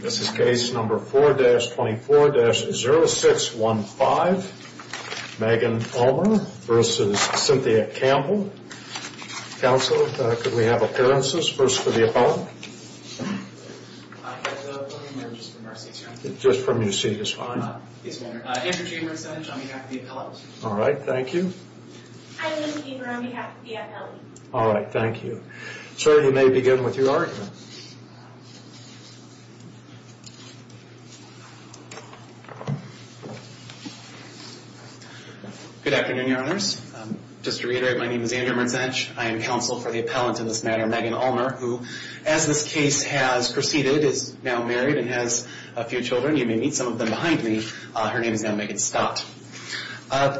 This is case number 4-24-0615, Megan Ulmer v. Cynthia Campbell. Counsel, could we have appearances first for the appellant? Hi, I'm just from our seat, sir. Just from your seat is fine. Andrew Chamberlain on behalf of the appellant. All right, thank you. Hi, I'm Amber on behalf of the appellant. All right, thank you. Sir, you may begin with your argument. Good afternoon, Your Honors. Just to reiterate, my name is Andrew Mertzenich. I am counsel for the appellant in this matter, Megan Ulmer, who, as this case has proceeded, is now married and has a few children. You may meet some of them behind me. Her name is now Megan Scott.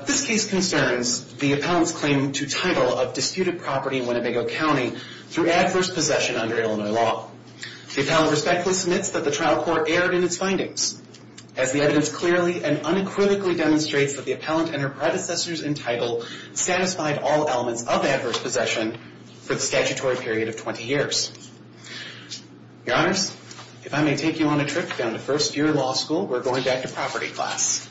This case concerns the appellant's claim to title of disputed property in Winnebago County through adverse possession under Illinois law. The appellant respectfully submits that the trial court erred in its findings, as the evidence clearly and unequivocally demonstrates that the appellant and her predecessors in title satisfied all elements of adverse possession for the statutory period of 20 years. Your Honors, if I may take you on a trip down to first-year law school, we're going back to property class.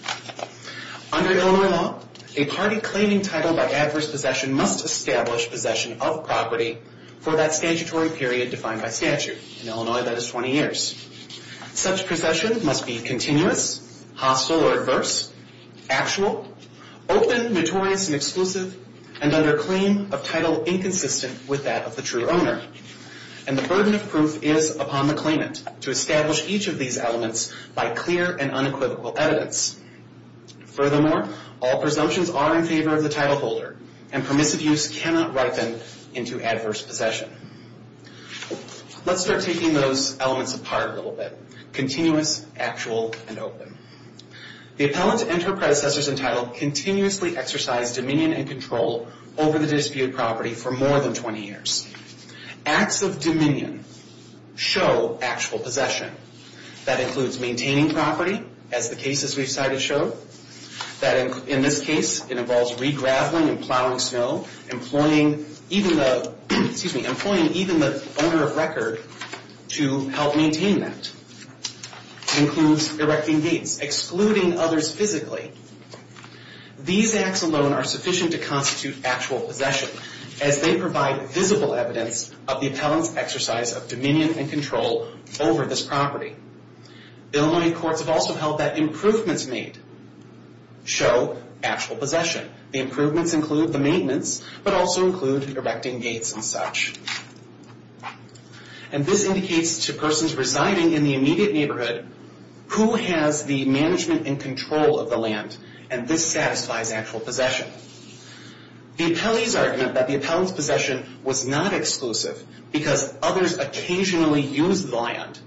Under Illinois law, a party claiming title by adverse possession must establish possession of property for that statutory period defined by statute. In Illinois, that is 20 years. Such possession must be continuous, hostile or adverse, actual, open, notorious, and exclusive, and under claim of title inconsistent with that of the true owner. And the burden of proof is upon the claimant to establish each of these elements by clear and unequivocal evidence. Furthermore, all presumptions are in favor of the title holder and permissive use cannot write them into adverse possession. Let's start taking those elements apart a little bit. Continuous, actual, and open. The appellant and her predecessors in title continuously exercise dominion and control over the disputed property for more than 20 years. Acts of dominion show actual possession. That includes maintaining property, as the cases we've cited show. In this case, it involves re-graveling and plowing snow, employing even the owner of record to help maintain that. It includes erecting gates, excluding others physically. These acts alone are sufficient to constitute actual possession as they provide visible evidence of the appellant's exercise of dominion and control over this property. Illinois courts have also held that improvements made show actual possession. The improvements include the maintenance, but also include erecting gates and such. And this indicates to persons residing in the immediate neighborhood who has the management and control of the land, and this satisfies actual possession. The appellee's argument that the appellant's possession was not exclusive because others occasionally use the land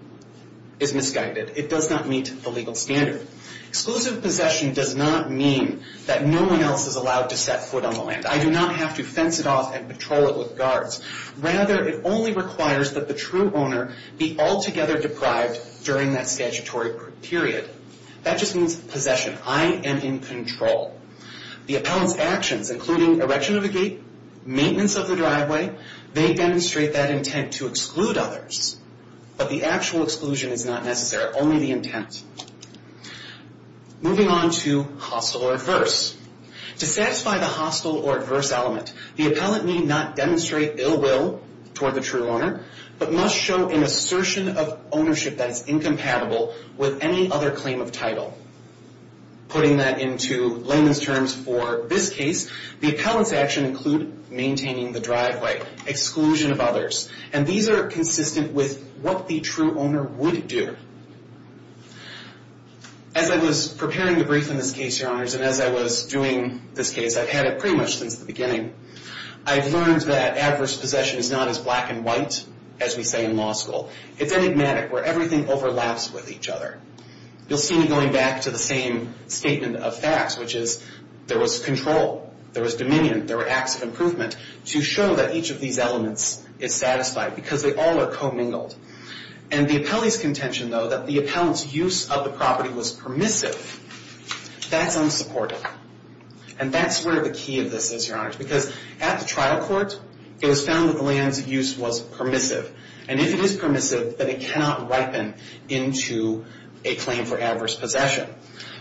is misguided. It does not meet the legal standard. Exclusive possession does not mean that no one else is allowed to set foot on the land. I do not have to fence it off and patrol it with guards. Rather, it only requires that the true owner be altogether deprived during that statutory period. That just means possession. I am in control. The appellant's actions, including erection of a gate, maintenance of the driveway, they demonstrate that intent to exclude others. But the actual exclusion is not necessary, only the intent. Moving on to hostile or adverse. To satisfy the hostile or adverse element, the appellant need not demonstrate ill will toward the true owner, but must show an assertion of ownership that is incompatible with any other claim of title. Putting that into layman's terms for this case, the appellant's actions include maintaining the driveway, exclusion of others, and these are consistent with what the true owner would do. As I was preparing to brief in this case, Your Honors, and as I was doing this case, I've had it pretty much since the beginning, I've learned that adverse possession is not as black and white as we say in law school. It's enigmatic, where everything overlaps with each other. You'll see me going back to the same statement of facts, which is there was control, there was dominion, there were acts of improvement to show that each of these elements is satisfied because they all are commingled. And the appellee's contention, though, that the appellant's use of the property was permissive, that's unsupportive. And that's where the key of this is, Your Honors, because at the trial court, it was found that the land's use was permissive. And if it is permissive, then it cannot ripen into a claim for adverse possession.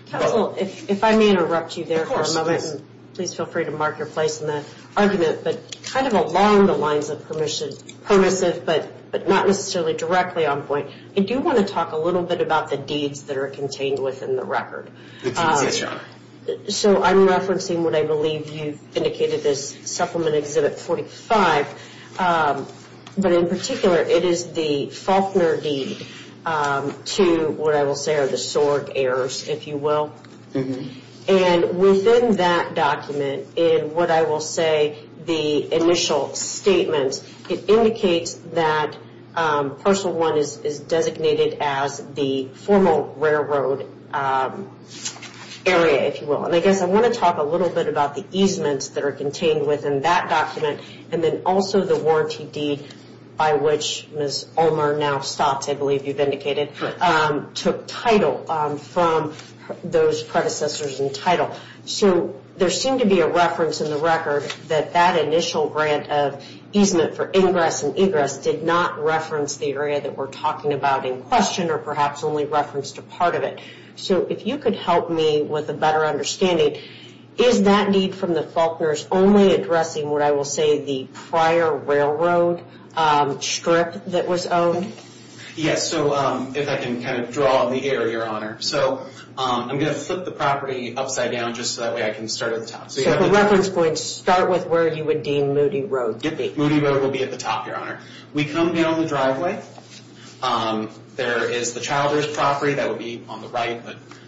Counsel, if I may interrupt you there for a moment, and please feel free to mark your place in the argument, but kind of along the lines of permissive, but not necessarily directly on point, I do want to talk a little bit about the deeds that are contained within the record. Yes, Your Honor. So I'm referencing what I believe you've indicated as Supplement Exhibit 45, but in particular, it is the Faulkner deed to what I will say are the sword heirs, if you will. And within that document, in what I will say the initial statement, it indicates that parcel one is designated as the formal railroad area, if you will. And I guess I want to talk a little bit about the easements that are contained within that document and then also the warranty deed by which Ms. Ulmer now stops, I believe you've indicated, took title from those predecessors in title. So there seemed to be a reference in the record that that initial grant of easement for ingress and egress did not reference the area that we're talking about in question or perhaps only referenced a part of it. So if you could help me with a better understanding, is that deed from the Faulkners only addressing what I will say the prior railroad strip that was owned? So if I can kind of draw on the air, Your Honor. So I'm going to flip the property upside down just so that way I can start at the top. So for reference points, start with where you would deem Moody Road to be. Moody Road will be at the top, Your Honor. We come down the driveway. There is the Childer's property that would be on the right,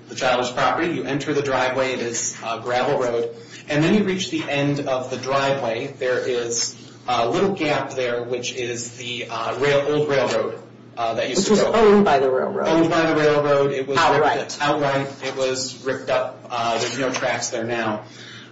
the Childer's property. You enter the driveway. It is a gravel road. And then you reach the end of the driveway. There is a little gap there, which is the old railroad that used to go. Which was owned by the railroad. Owned by the railroad. Outright. Outright. It was ripped up. There's no tracks there now.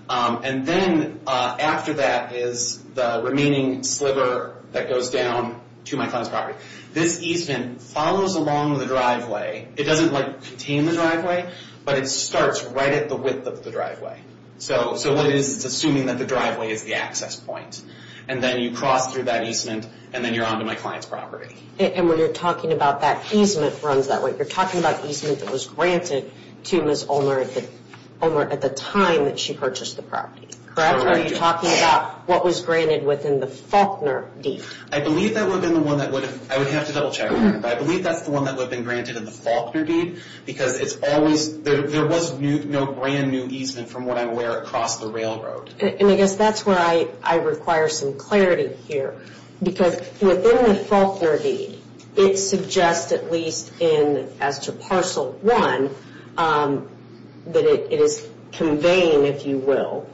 And then after that is the remaining sliver that goes down to my client's property. This easement follows along the driveway. It doesn't, like, contain the driveway, but it starts right at the width of the driveway. So what it is, it's assuming that the driveway is the access point. And then you cross through that easement, and then you're on to my client's property. And when you're talking about that easement runs that way, you're talking about easement that was granted to Ms. Ulmer at the time that she purchased the property. Correct. Or are you talking about what was granted within the Faulkner deed? I believe that would have been the one that would have, I would have to double check, Your Honor. I believe that's the one that would have been granted in the Faulkner deed. Because it's always, there was no brand new easement from what I'm aware across the railroad. And I guess that's where I require some clarity here. Because within the Faulkner deed, it suggests at least as to parcel one, that it is conveying, if you will,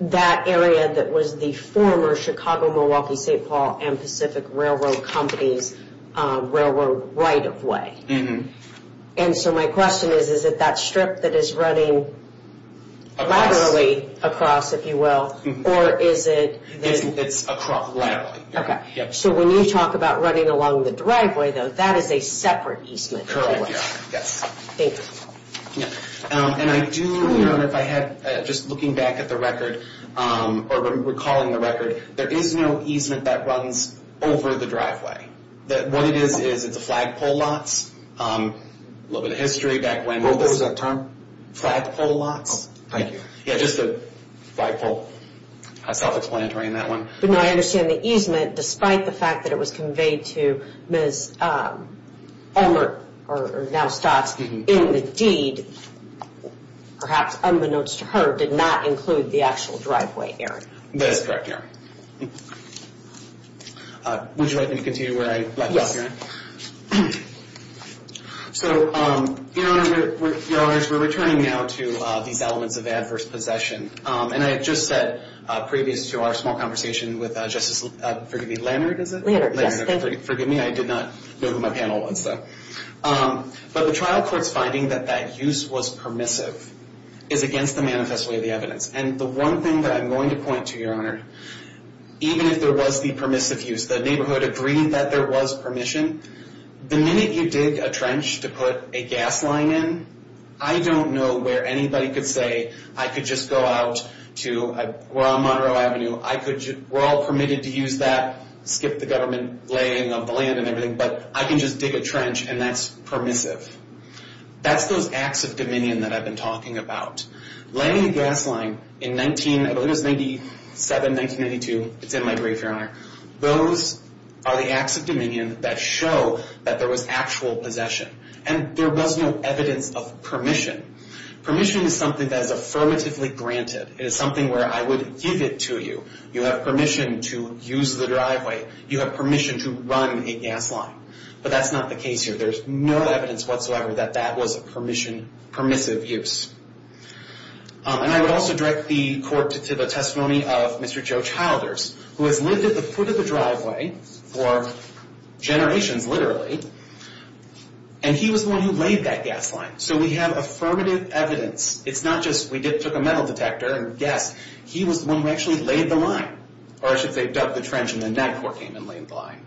that area that was the former Chicago-Milwaukee-St. Paul and Pacific Railroad Company's railroad right-of-way. And so my question is, is it that strip that is running laterally across, if you will, or is it? It's across laterally. So when you talk about running along the driveway, though, that is a separate easement. Yes. Thank you. And I do, Your Honor, if I had, just looking back at the record, or recalling the record, there is no easement that runs over the driveway. What it is, is it's a flagpole lots. A little bit of history back when. What was that term? Flagpole lots. Thank you. Yeah, just the flagpole. Self-explanatory on that one. But now I understand the easement, despite the fact that it was conveyed to Ms. Elmer, or now Stotts, in the deed, perhaps unbeknownst to her, did not include the actual driveway area. That is correct, Your Honor. Would you like me to continue where I left off, Your Honor? Yes. So, Your Honor, we're returning now to these elements of adverse possession. And I had just said, previous to our small conversation with Justice, forgive me, Leonard, is it? Leonard, yes. Forgive me, I did not know who my panel was, though. But the trial court's finding that that use was permissive is against the manifest way of the evidence. And the one thing that I'm going to point to, Your Honor, even if there was the permissive use, the neighborhood agreed that there was permission, the minute you dig a trench to put a gas line in, I don't know where anybody could say, I could just go out to, we're on Monroe Avenue, we're all permitted to use that, skip the government laying of the land and everything, but I can just dig a trench and that's permissive. That's those acts of dominion that I've been talking about. Laying a gas line in 1997, 1992, it's in my brief, Your Honor, those are the acts of dominion that show that there was actual possession. And there was no evidence of permission. Permission is something that is affirmatively granted. It is something where I would give it to you. You have permission to use the driveway. You have permission to run a gas line. But that's not the case here. There's no evidence whatsoever that that was a permissive use. And I would also direct the court to the testimony of Mr. Joe Childers, who has lived at the foot of the driveway for generations, literally, and he was the one who laid that gas line. So we have affirmative evidence. It's not just we took a metal detector and gas. He was the one who actually laid the line, or I should say dug the trench and then that court came and laid the line.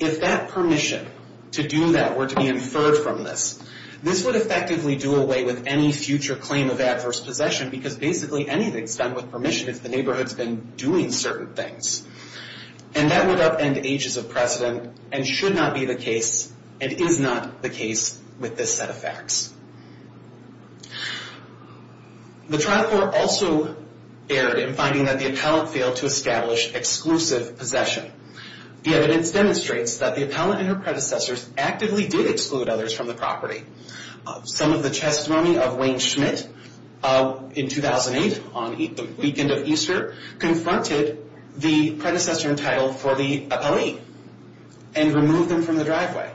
If that permission to do that were to be inferred from this, this would effectively do away with any future claim of adverse possession because basically anything's done with permission if the neighborhood's been doing certain things. And that would upend ages of precedent and should not be the case and is not the case with this set of facts. The trial court also erred in finding that the appellant failed to establish exclusive possession. The evidence demonstrates that the appellant and her predecessors actively did exclude others from the property. Some of the testimony of Wayne Schmidt in 2008 on the weekend of Easter confronted the predecessor entitled for the appellee and removed them from the driveway.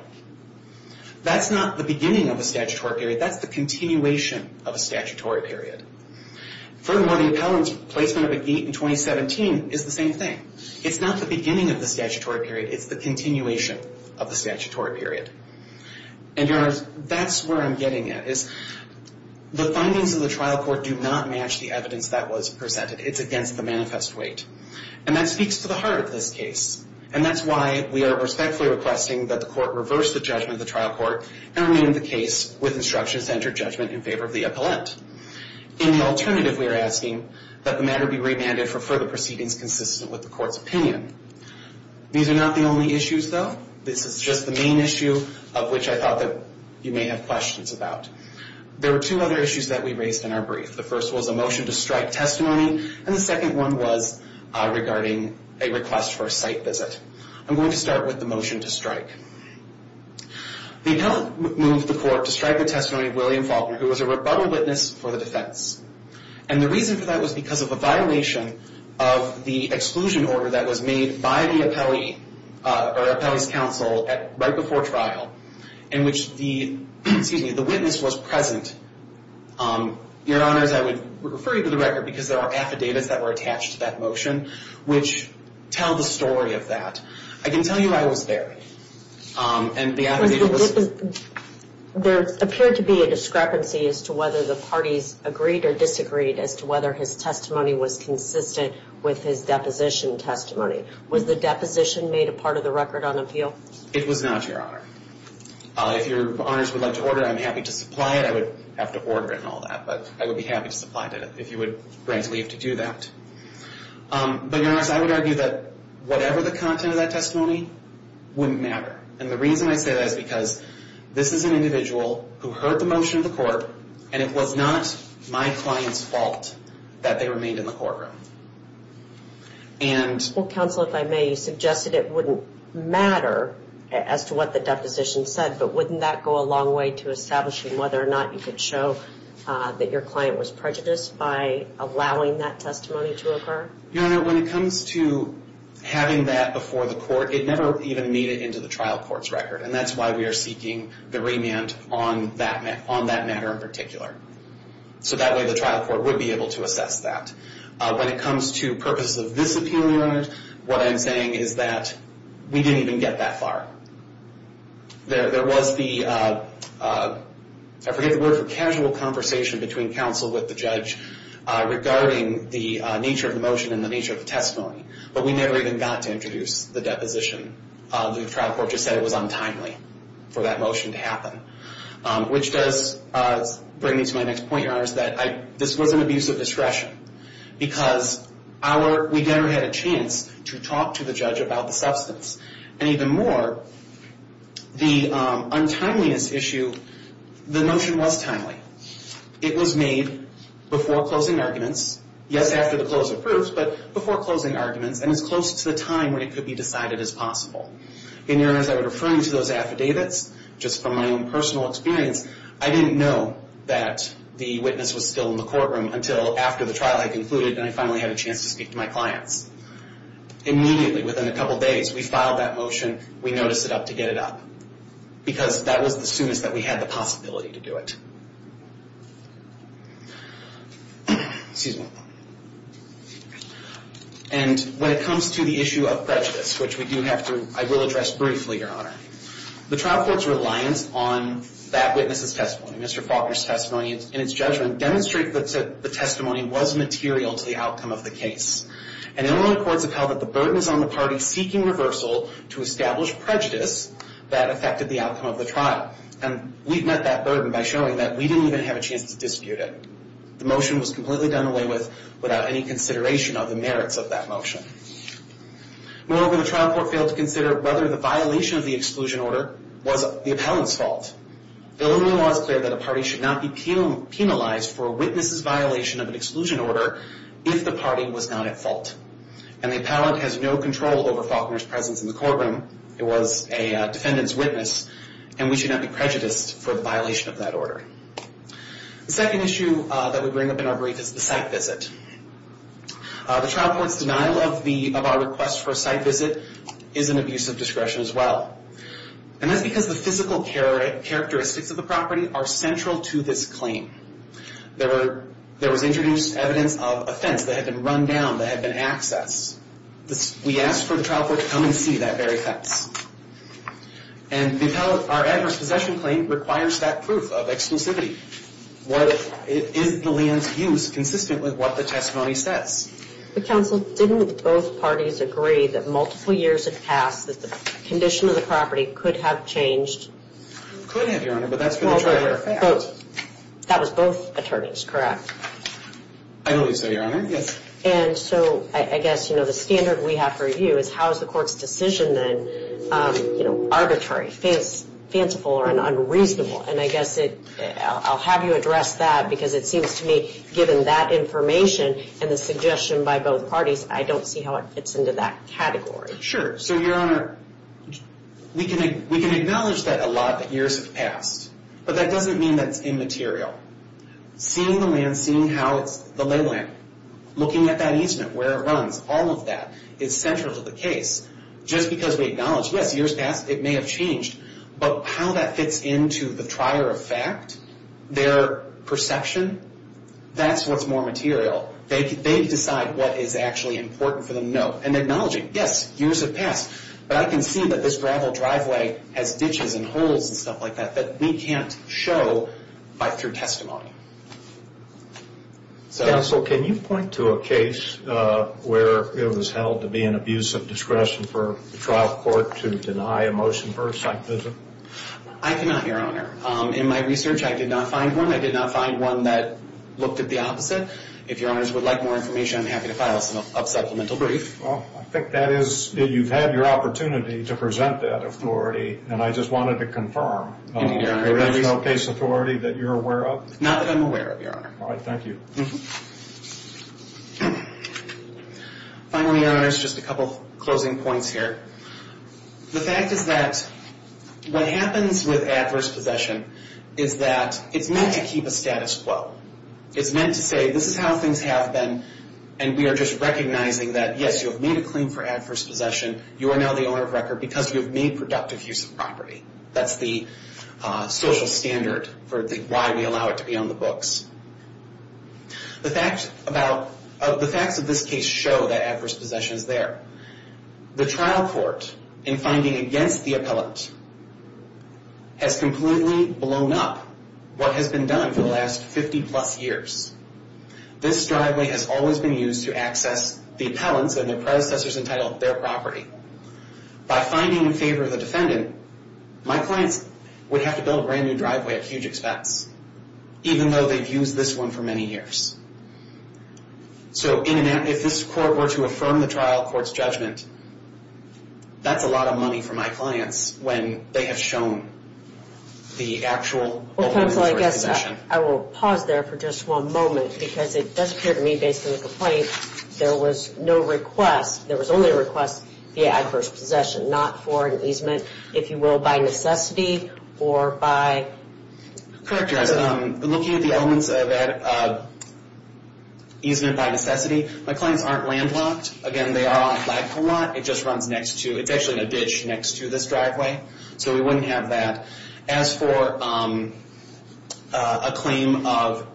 That's not the beginning of a statutory period. That's the continuation of a statutory period. Furthermore, the appellant's placement of a gate in 2017 is the same thing. It's not the beginning of the statutory period. It's the continuation of the statutory period. And that's where I'm getting at is the findings of the trial court do not match the evidence that was presented. It's against the manifest weight. And that speaks to the heart of this case. And that's why we are respectfully requesting that the court reverse the judgment of the trial court and rename the case with instructions to enter judgment in favor of the appellant. In the alternative, we are asking that the matter be remanded for further proceedings consistent with the court's opinion. These are not the only issues, though. This is just the main issue of which I thought that you may have questions about. There were two other issues that we raised in our brief. The first was a motion to strike testimony, and the second one was regarding a request for a site visit. I'm going to start with the motion to strike. The appellant moved the court to strike the testimony of William Faulkner, who was a rebuttal witness for the defense. And the reason for that was because of a violation of the exclusion order that was made by the appellee or appellee's counsel right before trial in which the witness was present. Your Honors, I would refer you to the record because there are affidavits that were attached to that motion which tell the story of that. I can tell you I was there, and the affidavit was— There appeared to be a discrepancy as to whether the parties agreed or disagreed as to whether his testimony was consistent with his deposition testimony. Was the deposition made a part of the record on appeal? It was not, Your Honor. If Your Honors would like to order it, I'm happy to supply it. I would have to order it and all that, but I would be happy to supply it if you would grant leave to do that. But, Your Honors, I would argue that whatever the content of that testimony wouldn't matter. And the reason I say that is because this is an individual who heard the motion of the court, and it was not my client's fault that they remained in the courtroom. And— Well, counsel, if I may, you suggested it wouldn't matter as to what the deposition said, but wouldn't that go a long way to establishing whether or not you could show that your client was prejudiced by allowing that testimony to occur? Your Honor, when it comes to having that before the court, it never even made it into the trial court's record, and that's why we are seeking the remand on that matter in particular. So that way the trial court would be able to assess that. When it comes to purposes of this appeal, Your Honor, what I'm saying is that we didn't even get that far. There was the—I forget the word for casual conversation between counsel with the judge regarding the nature of the motion and the nature of the testimony, but we never even got to introduce the deposition. The trial court just said it was untimely for that motion to happen, which does bring me to my next point, Your Honor, is that this was an abuse of discretion because our— we never had a chance to talk to the judge about the substance. And even more, the untimeliness issue, the motion was timely. It was made before closing arguments, yes, after the close of proofs, but before closing arguments and as close to the time when it could be decided as possible. And, Your Honor, as I was referring to those affidavits, just from my own personal experience, I didn't know that the witness was still in the courtroom until after the trial had concluded and I finally had a chance to speak to my clients. Immediately, within a couple days, we filed that motion. We noticed it up to get it up because that was the soonest that we had the possibility to do it. Excuse me. And when it comes to the issue of prejudice, which we do have to—I will address briefly, Your Honor. The trial court's reliance on that witness's testimony, Mr. Faulkner's testimony, and its judgment demonstrate that the testimony was material to the outcome of the case. And Illinois courts have held that the burden is on the party seeking reversal to establish prejudice that affected the outcome of the trial. And we've met that burden by showing that we didn't even have a chance to dispute it. The motion was completely done away with without any consideration of the merits of that motion. Moreover, the trial court failed to consider whether the violation of the exclusion order was the appellant's fault. Illinois law is clear that a party should not be penalized for a witness's violation of an exclusion order if the party was not at fault. And the appellant has no control over Faulkner's presence in the courtroom. It was a defendant's witness, and we should not be prejudiced for the violation of that order. The second issue that we bring up in our brief is the site visit. The trial court's denial of our request for a site visit is an abuse of discretion as well. And that's because the physical characteristics of the property are central to this claim. There was introduced evidence of a fence that had been run down, that had been accessed. We asked for the trial court to come and see that very fence. And our adverse possession claim requires that proof of exclusivity. Is the land used consistent with what the testimony says? But, counsel, didn't both parties agree that multiple years had passed, that the condition of the property could have changed? It could have, Your Honor, but that's for the trial court. That was both attorneys, correct? I believe so, Your Honor, yes. And so I guess, you know, the standard we have for you is how is the court's decision then, you know, arbitrary, fanciful, or unreasonable? And I guess I'll have you address that because it seems to me, given that information and the suggestion by both parties, I don't see how it fits into that category. Sure. So, Your Honor, we can acknowledge that a lot, that years have passed. But that doesn't mean that it's immaterial. Seeing the land, seeing how it's the lay land, looking at that easement, where it runs, all of that, is central to the case. Just because we acknowledge, yes, years passed, it may have changed, but how that fits into the trier of fact, their perception, that's what's more material. They decide what is actually important for them to know. And acknowledging, yes, years have passed, but I can see that this gravel driveway has ditches and holes and stuff like that that we can't show through testimony. Counsel, can you point to a case where it was held to be an abuse of discretion for the trial court to deny a motion for a site visit? I cannot, Your Honor. In my research, I did not find one. I did not find one that looked at the opposite. If Your Honors would like more information, I'm happy to file a supplemental brief. Well, I think that is, you've had your opportunity to present that authority, and I just wanted to confirm, there is no case authority that you're aware of? Not that I'm aware of, Your Honor. All right, thank you. Finally, Your Honors, just a couple closing points here. The fact is that what happens with adverse possession is that it's meant to keep a status quo. It's meant to say, this is how things have been, and we are just recognizing that, yes, you have made a claim for adverse possession. You are now the owner of record because you have made productive use of property. That's the social standard for why we allow it to be on the books. The facts of this case show that adverse possession is there. The trial court, in finding against the appellant, has completely blown up what has been done for the last 50-plus years. This driveway has always been used to access the appellants and their predecessors entitled their property. By finding in favor of the defendant, my clients would have to build a brand-new driveway at huge expense, even though they've used this one for many years. So if this court were to affirm the trial court's judgment, that's a lot of money for my clients when they have shown the actual ownership for possession. Well, counsel, I guess I will pause there for just one moment because it does appear to me, based on the complaint, that there was no request, there was only a request for adverse possession, not for an easement, if you will, by necessity or by... Correct, guys. Looking at the elements of easement by necessity, my clients aren't landlocked. Again, they are on Flagpole Lot. It just runs next to, it's actually in a ditch next to this driveway. So we wouldn't have that. As for a claim of,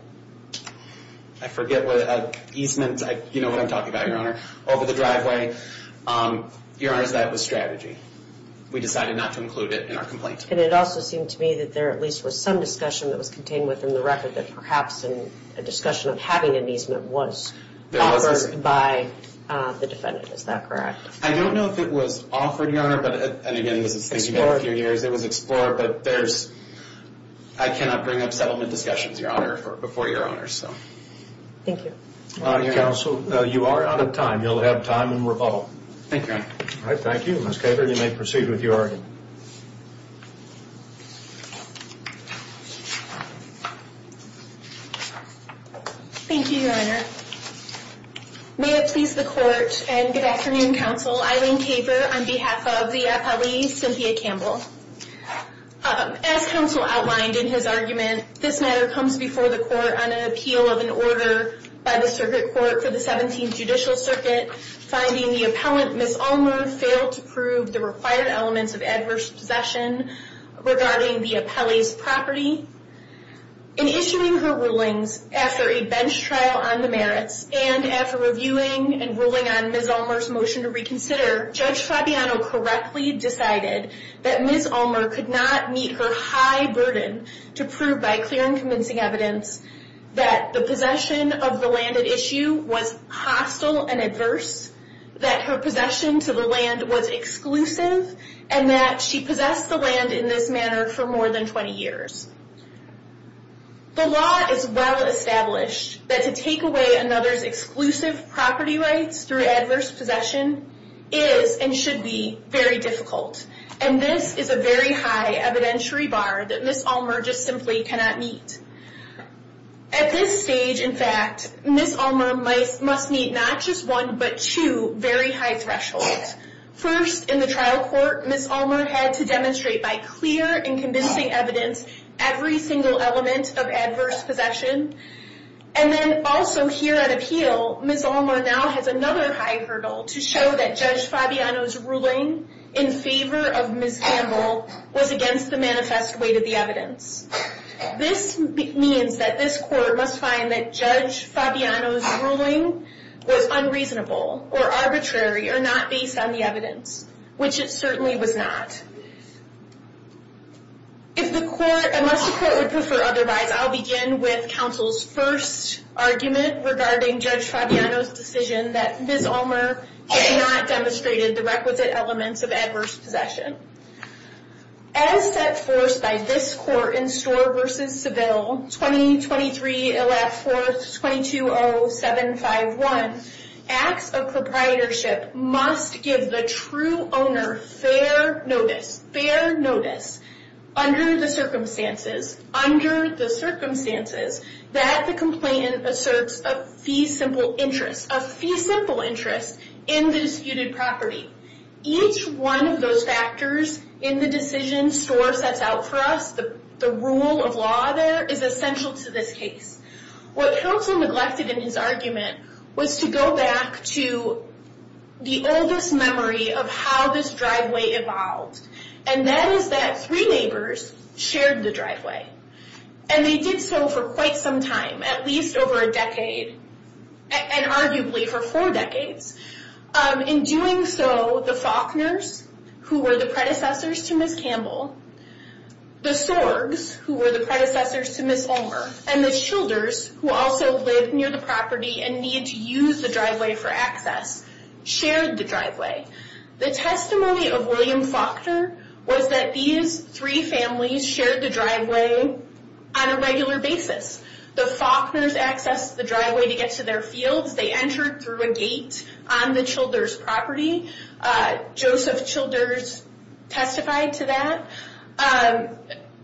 I forget what easement, you know what I'm talking about, Your Honor, over the driveway, Your Honor, that was strategy. We decided not to include it in our complaint. And it also seemed to me that there at least was some discussion that was contained within the record that perhaps a discussion of having an easement was offered by the defendant. Is that correct? I don't know if it was offered, Your Honor. And again, this is thinking about a few years. It was explored, but there's... I cannot bring up settlement discussions, Your Honor, before Your Honor. Thank you. Your Honor. Counsel, you are out of time. You'll have time in rebuttal. Thank you, Your Honor. All right, thank you. Ms. Kaper, you may proceed with your argument. Thank you, Your Honor. May it please the Court and good afternoon, Counsel. Eileen Kaper on behalf of the appellee, Cynthia Campbell. As counsel outlined in his argument, this matter comes before the Court on an appeal of an order by the circuit court for the 17th Judicial Circuit finding the appellant, Ms. Ulmer, failed to prove the required elements of adverse possession regarding the appellee's property. In issuing her rulings after a bench trial on the merits and after reviewing and ruling on Ms. Ulmer's motion to reconsider, Judge Fabiano correctly decided that Ms. Ulmer could not meet her high burden to prove by clear and convincing evidence that the possession of the land at issue was hostile and adverse, that her possession to the land was exclusive, and that she possessed the land in this manner for more than 20 years. The law is well established that to take away another's exclusive property rights through adverse possession is and should be very difficult, and this is a very high evidentiary bar that Ms. Ulmer just simply cannot meet. At this stage, in fact, Ms. Ulmer must meet not just one, but two very high thresholds. First, in the trial court, Ms. Ulmer had to demonstrate by clear and convincing evidence every single element of adverse possession, and then also here at appeal, Ms. Ulmer now has another high hurdle to show that Judge Fabiano's ruling in favor of Ms. Campbell was against the manifest weight of the evidence. This means that this court must find that Judge Fabiano's ruling was unreasonable or arbitrary or not based on the evidence, which it certainly was not. If the court, unless the court would prefer otherwise, I'll begin with counsel's first argument regarding Judge Fabiano's decision that Ms. Ulmer had not demonstrated the requisite elements of adverse possession. As set forth by this court in Storr v. Seville, 20-23-4-220-751, acts of proprietorship must give the true owner fair notice, fair notice, under the circumstances, under the circumstances, that the complainant asserts a fee simple interest, a fee simple interest in the disputed property. Each one of those factors in the decision Storr sets out for us, the rule of law there, is essential to this case. What counsel neglected in his argument was to go back to the oldest memory of how this driveway evolved, and that is that three neighbors shared the driveway, and they did so for quite some time, at least over a decade, and arguably for four decades. In doing so, the Faulkners, who were the predecessors to Ms. Campbell, the Sorgs, who were the predecessors to Ms. Ulmer, and the Childers, who also lived near the property and needed to use the driveway for access, shared the driveway. The testimony of William Faulkner was that these three families shared the driveway on a regular basis. The Faulkners accessed the driveway to get to their fields. They entered through a gate on the Childers' property. Joseph Childers testified to that.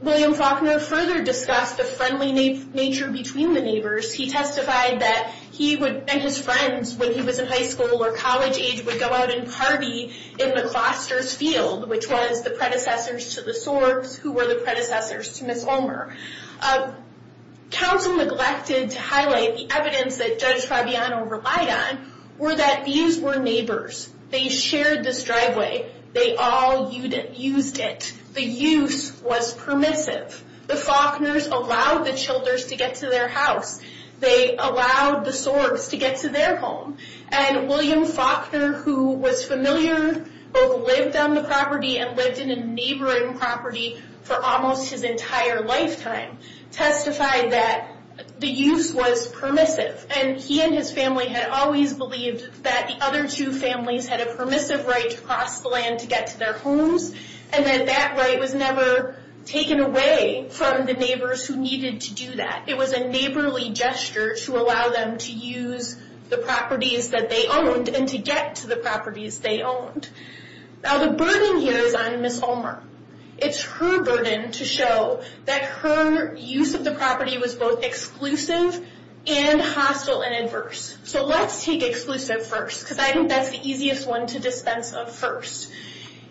William Faulkner further discussed the friendly nature between the neighbors. He testified that he and his friends, when he was in high school or college age, would go out and party in McCloster's field, which was the predecessors to the Sorgs, who were the predecessors to Ms. Ulmer. Counsel neglected to highlight the evidence that Judge Fabiano relied on were that these were neighbors. They shared this driveway. They all used it. The use was permissive. The Faulkners allowed the Childers to get to their house. They allowed the Sorgs to get to their home. William Faulkner, who was familiar, both lived on the property and lived in a neighboring property for almost his entire lifetime, testified that the use was permissive. He and his family had always believed that the other two families had a permissive right to cross the land to get to their homes and that that right was never taken away from the neighbors who needed to do that. It was a neighborly gesture to allow them to use the properties that they owned and to get to the properties they owned. The burden here is on Ms. Ulmer. It's her burden to show that her use of the property was both exclusive and hostile and adverse. So let's take exclusive first because I think that's the easiest one to dispense of first.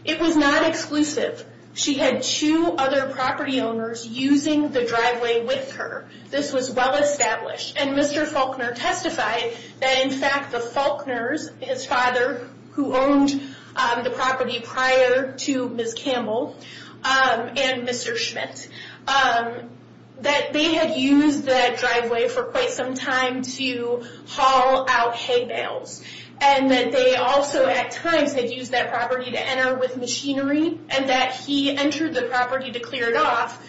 It was not exclusive. She had two other property owners using the driveway with her. This was well-established. And Mr. Faulkner testified that, in fact, the Faulkners, his father who owned the property prior to Ms. Campbell and Mr. Schmidt, that they had used that driveway for quite some time to haul out hay bales and that they also at times had used that property to enter with machinery and that he entered the property to clear it off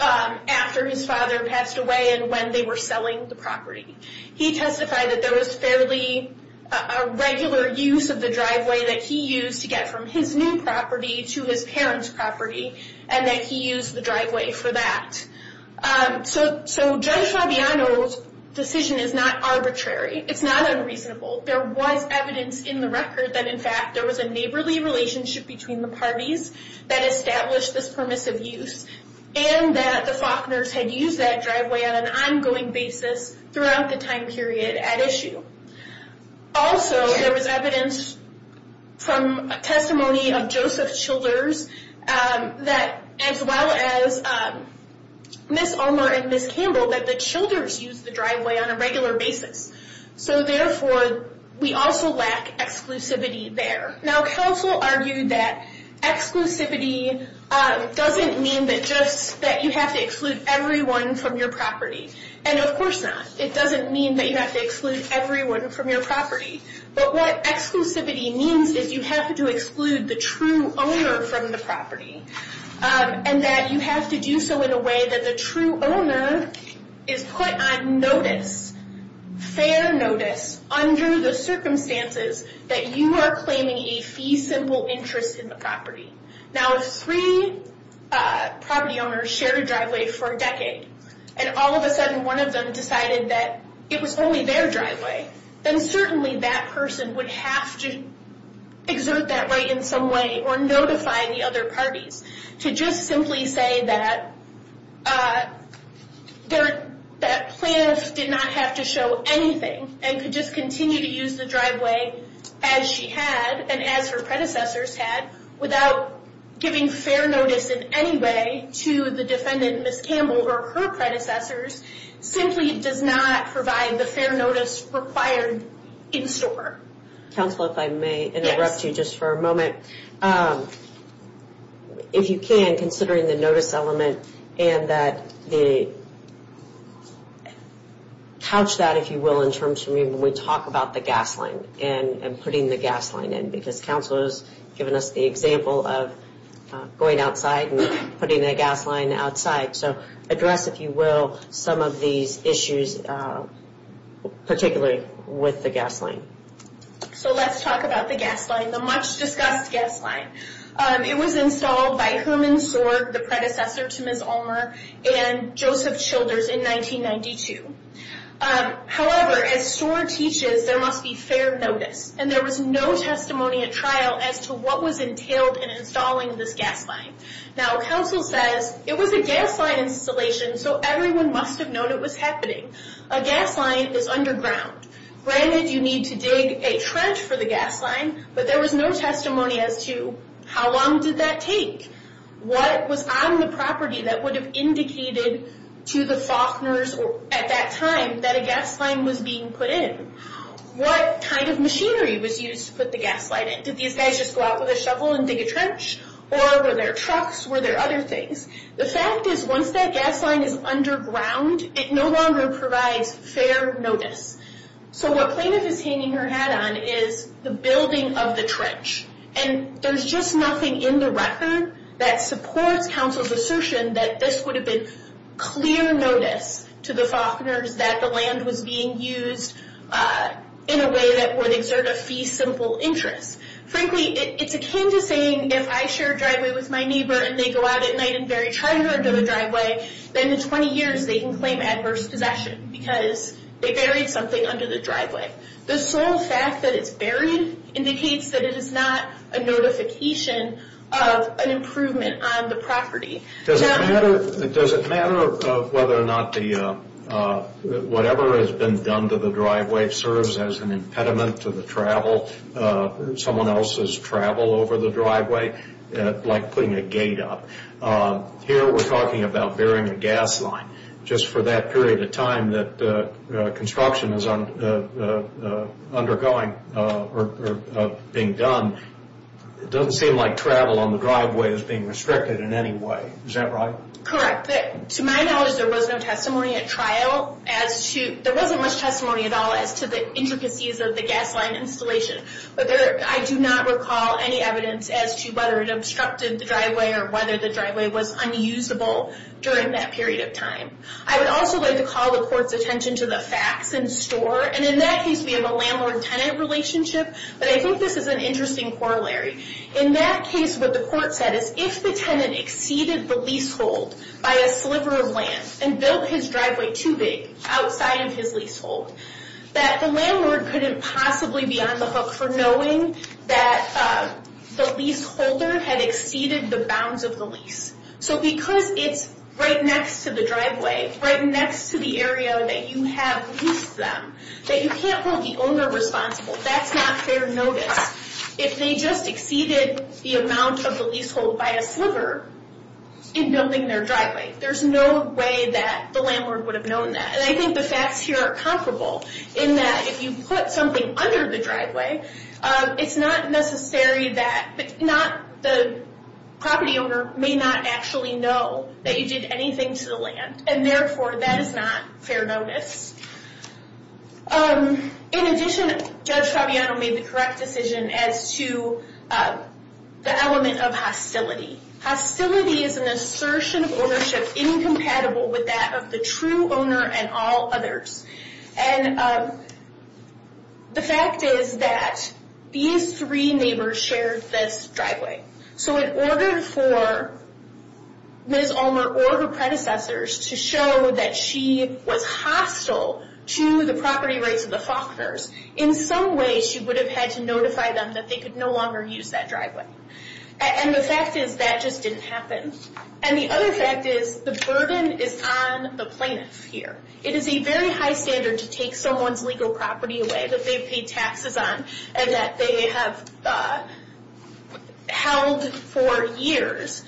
after his father passed away and when they were selling the property. He testified that there was fairly regular use of the driveway that he used to get from his new property to his parents' property and that he used the driveway for that. So Judge Fabiano's decision is not arbitrary. It's not unreasonable. There was evidence in the record that, in fact, there was a neighborly relationship between the parties that established this permissive use and that the Faulkners had used that driveway on an ongoing basis throughout the time period at issue. Also, there was evidence from testimony of Joseph Childers as well as Ms. Ulmer and Ms. Campbell that the Childers used the driveway on a regular basis. So therefore, we also lack exclusivity there. Now, counsel argued that exclusivity doesn't mean that you have to exclude everyone from your property. And of course not. It doesn't mean that you have to exclude everyone from your property. But what exclusivity means is you have to exclude the true owner from the property and that you have to do so in a way that the true owner is put on notice, fair notice, under the circumstances that you are claiming a fee-simple interest in the property. Now, if three property owners shared a driveway for a decade and all of a sudden one of them decided that it was only their driveway, then certainly that person would have to exert that right in some way or notify the other parties to just simply say that that plaintiff did not have to show anything and could just continue to use the driveway as she had and as her predecessors had without giving fair notice in any way to the defendant, Ms. Campbell, or her predecessors, simply does not provide the fair notice required in store. Counsel, if I may interrupt you just for a moment. If you can, considering the notice element and that the couch that, if you will, in terms of when we talk about the gas line and putting the gas line in, because Counsel has given us the example of going outside and putting a gas line outside. So address, if you will, some of these issues, particularly with the gas line. So let's talk about the gas line, the much-discussed gas line. It was installed by Herman Soar, the predecessor to Ms. Ulmer, and Joseph Childers in 1992. However, as Soar teaches, there must be fair notice, and there was no testimony at trial as to what was entailed in installing this gas line. Now, Counsel says, it was a gas line installation, so everyone must have known it was happening. A gas line is underground. Granted, you need to dig a trench for the gas line, but there was no testimony as to how long did that take? What was on the property that would have indicated to the Faulkners at that time that a gas line was being put in? What kind of machinery was used to put the gas line in? Did these guys just go out with a shovel and dig a trench? Or were there trucks? Were there other things? The fact is, once that gas line is underground, it no longer provides fair notice. So what Plaintiff is hanging her hat on is the building of the trench, and there's just nothing in the record that supports Counsel's assertion that this would have been clear notice to the Faulkners that the land was being used in a way that would exert a fee-simple interest. Frankly, it's akin to saying if I share a driveway with my neighbor and they go out at night and bury treasure under the driveway, then in 20 years they can claim adverse possession because they buried something under the driveway. The sole fact that it's buried indicates that it is not a notification of an improvement on the property. Does it matter whether or not whatever has been done to the driveway serves as an impediment to someone else's travel over the driveway? Like putting a gate up. Here we're talking about burying a gas line. Just for that period of time that construction is undergoing or being done, it doesn't seem like travel on the driveway is being restricted in any way. Is that right? Correct. To my knowledge, there was no testimony at trial. There wasn't much testimony at all as to the intricacies of the gas line installation. But I do not recall any evidence as to whether it obstructed the driveway or whether the driveway was unusable during that period of time. I would also like to call the court's attention to the facts in store. In that case, we have a landlord-tenant relationship. But I think this is an interesting corollary. In that case, what the court said is if the tenant exceeded the leasehold by a sliver of land and built his driveway too big outside of his leasehold, that the landlord couldn't possibly be on the hook for knowing that the leaseholder had exceeded the bounds of the lease. Because it's right next to the driveway, right next to the area that you have leased them, that you can't hold the owner responsible. That's not fair notice. If they just exceeded the amount of the leasehold by a sliver in building their driveway, there's no way that the landlord would have known that. I think the facts here are comparable in that if you put something under the driveway, it's not necessary that the property owner may not actually know that you did anything to the land. And therefore, that is not fair notice. In addition, Judge Fabiano made the correct decision as to the element of hostility. Hostility is an assertion of ownership incompatible with that of the true owner and all others. And the fact is that these three neighbors shared this driveway. So in order for Ms. Ulmer or her predecessors to show that she was hostile to the property rights of the Faulkners, in some way she would have had to notify them that they could no longer use that driveway. And the fact is that just didn't happen. And the other fact is the burden is on the plaintiff here. It is a very high standard to take someone's legal property away that they've paid taxes on and that they have held for years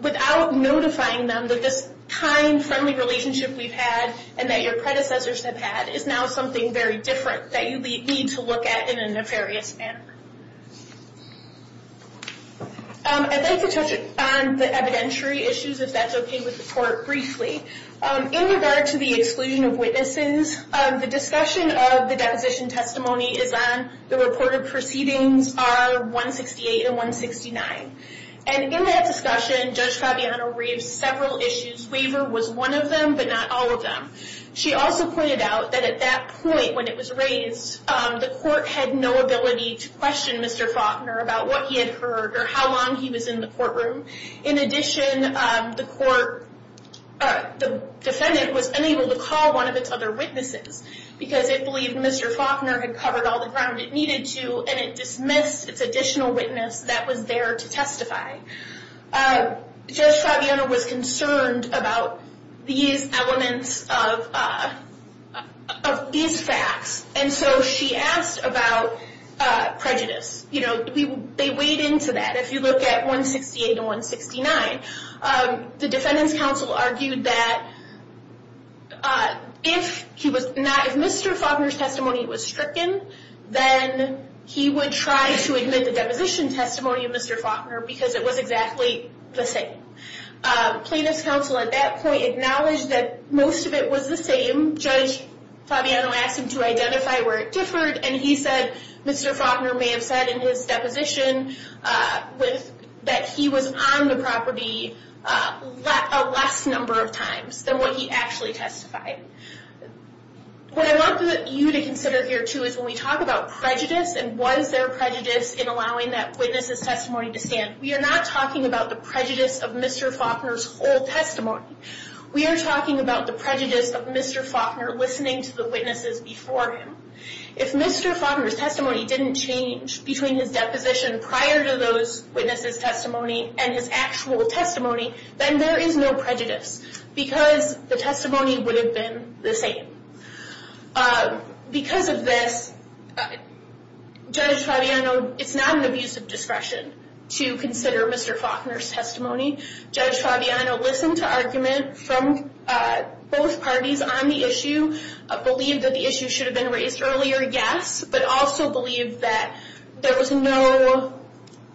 without notifying them that this kind, friendly relationship we've had and that your predecessors have had is now something very different that you need to look at in a nefarious manner. I'd like to touch on the evidentiary issues, if that's okay with the court, briefly. In regard to the exclusion of witnesses, the discussion of the deposition testimony is on the reported proceedings R168 and 169. And in that discussion, Judge Fabiano raised several issues. Waiver was one of them, but not all of them. She also pointed out that at that point when it was raised, the court had no ability to question Mr. Faulkner about what he had heard or how long he was in the courtroom. In addition, the defendant was unable to call one of its other witnesses because it believed Mr. Faulkner had covered all the ground it needed to and it dismissed its additional witness that was there to testify. Judge Fabiano was concerned about these elements of these facts, and so she asked about prejudice. They weighed into that. If you look at R168 and R169, the defendant's counsel argued that if Mr. Faulkner's testimony was stricken, then he would try to admit the deposition testimony of Mr. Faulkner because it was exactly the same. Plaintiff's counsel at that point acknowledged that most of it was the same. Judge Fabiano asked him to identify where it differed, and he said Mr. Faulkner may have said in his deposition that he was on the property a less number of times than what he actually testified. What I want you to consider here, too, is when we talk about prejudice and was there prejudice in allowing that witness's testimony to stand, we are not talking about the prejudice of Mr. Faulkner's whole testimony. We are talking about the prejudice of Mr. Faulkner listening to the witnesses before him. If Mr. Faulkner's testimony didn't change between his deposition prior to those witnesses' testimony and his actual testimony, then there is no prejudice because the testimony would have been the same. Because of this, Judge Fabiano, it's not an abuse of discretion to consider Mr. Faulkner's testimony. Judge Fabiano listened to argument from both parties on the issue, believed that the issue should have been raised earlier, yes, but also believed that there was no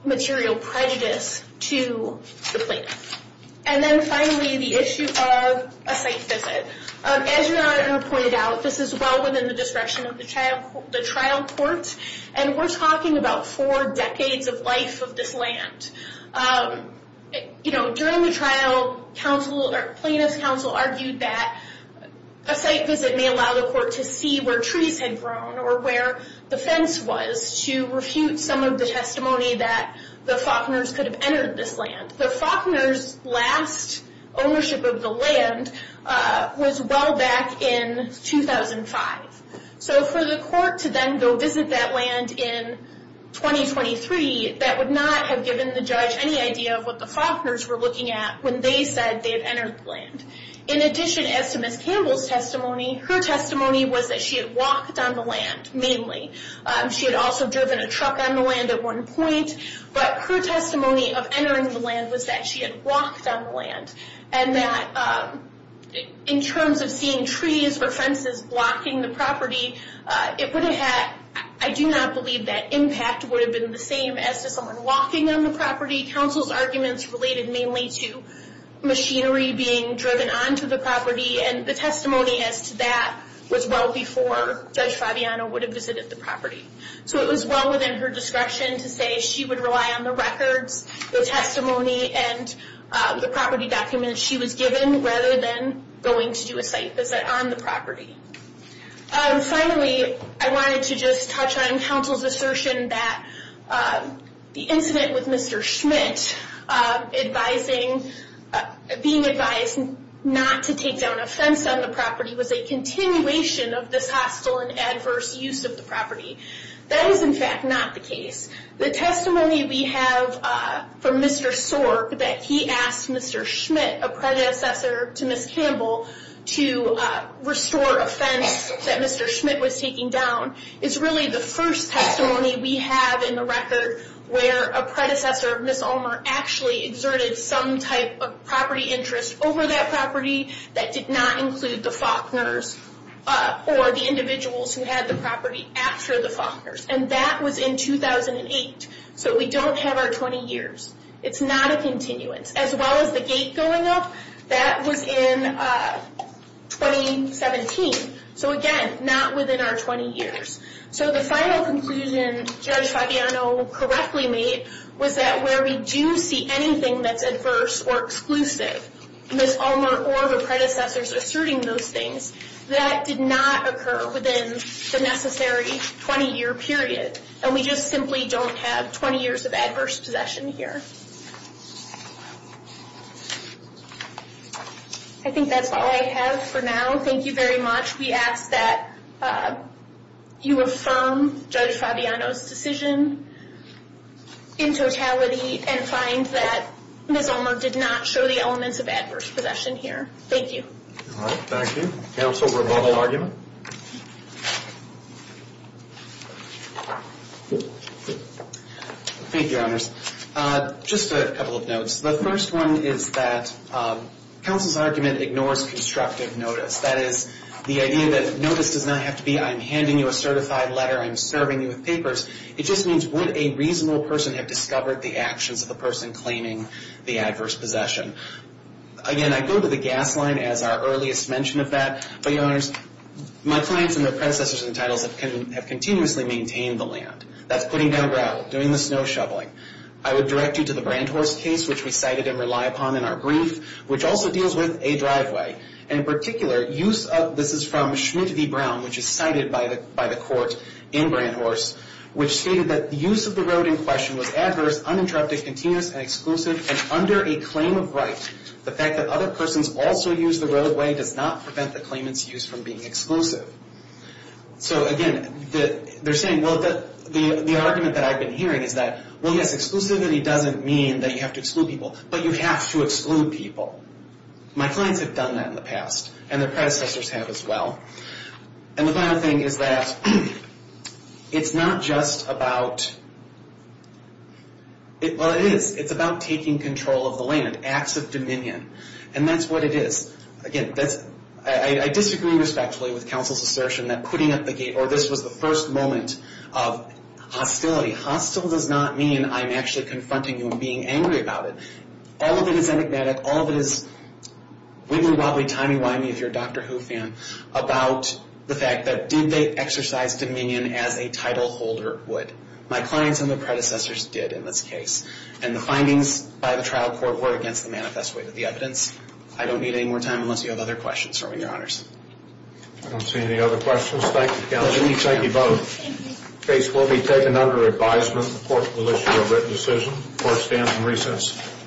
material prejudice to the plaintiff. And then finally, the issue of a site visit. As your Honor pointed out, this is well within the discretion of the trial court, and we're talking about four decades of life of this land. During the trial, plaintiff's counsel argued that a site visit may allow the court to see where trees had grown or where the fence was to refute some of the testimony that the Faulkners could have entered this land. The Faulkners' last ownership of the land was well back in 2005. So for the court to then go visit that land in 2023, that would not have given the judge any idea of what the Faulkners were looking at when they said they had entered the land. In addition, as to Ms. Campbell's testimony, her testimony was that she had walked on the land mainly. She had also driven a truck on the land at one point. But her testimony of entering the land was that she had walked on the land and that in terms of seeing trees or fences blocking the property, I do not believe that impact would have been the same as to someone walking on the property. Counsel's arguments related mainly to machinery being driven onto the property, and the testimony as to that was well before Judge Fabiano would have visited the property. So it was well within her discretion to say she would rely on the records, the testimony, and the property documents she was given rather than going to do a site visit on the property. Finally, I wanted to just touch on counsel's assertion that the incident with Mr. Schmidt, being advised not to take down a fence on the property, was a continuation of this hostile and adverse use of the property. That is, in fact, not the case. The testimony we have from Mr. Sorg that he asked Mr. Schmidt, a predecessor to Ms. Campbell, to restore a fence that Mr. Schmidt was taking down is really the first testimony we have in the record where a predecessor of Ms. Ulmer actually exerted some type of property interest over that property that did not include the Faulkners or the individuals who had the property after the Faulkners. And that was in 2008. So we don't have our 20 years. It's not a continuance. As well as the gate going up, that was in 2017. So again, not within our 20 years. So the final conclusion Judge Fabiano correctly made was that where we do see anything that's adverse or exclusive, Ms. Ulmer or the predecessors asserting those things, that did not occur within the necessary 20-year period. And we just simply don't have 20 years of adverse possession here. I think that's all I have for now. Thank you very much. We ask that you affirm Judge Fabiano's decision in totality and find that Ms. Ulmer did not show the elements of adverse possession here. Thank you. All right, thank you. Counsel, rebuttal argument? Thank you, Your Honors. Just a couple of notes. The first one is that counsel's argument ignores constructive notice. That is, the idea that notice does not have to be, I'm handing you a certified letter, I'm serving you with papers. It just means would a reasonable person have discovered the actions of the person claiming the adverse possession. Again, I go to the gas line as our earliest mention of that. But, Your Honors, my clients and their predecessors and titles have continuously maintained the land. That's putting down gravel, doing the snow shoveling. I would direct you to the Brand Horse case, which we cited and rely upon in our brief, which also deals with a driveway. And in particular, this is from Schmidt v. Brown, which is cited by the court in Brand Horse, which stated that the use of the road in question was adverse, uninterrupted, continuous, and exclusive. And under a claim of right, the fact that other persons also use the roadway does not prevent the claimant's use from being exclusive. So, again, they're saying, well, the argument that I've been hearing is that, well, yes, exclusivity doesn't mean that you have to exclude people, but you have to exclude people. My clients have done that in the past, and their predecessors have as well. And the final thing is that it's not just about, well, it is. It's about taking control of the land, acts of dominion. And that's what it is. Again, I disagree respectfully with counsel's assertion that putting up the gate or this was the first moment of hostility. Hostile does not mean I'm actually confronting you and being angry about it. All of it is enigmatic. All of it is wiggly-wobbly, timey-wimey, if you're a Dr. Who fan, about the fact that did they exercise dominion as a title holder would. My clients and their predecessors did in this case. And the findings by the trial court were against the manifest way of the evidence. I don't need any more time unless you have other questions for me, Your Honors. I don't see any other questions. Thank you, counsel. Thank you both. The case will be taken under advisement. The court will issue a written decision. The court stands in recess.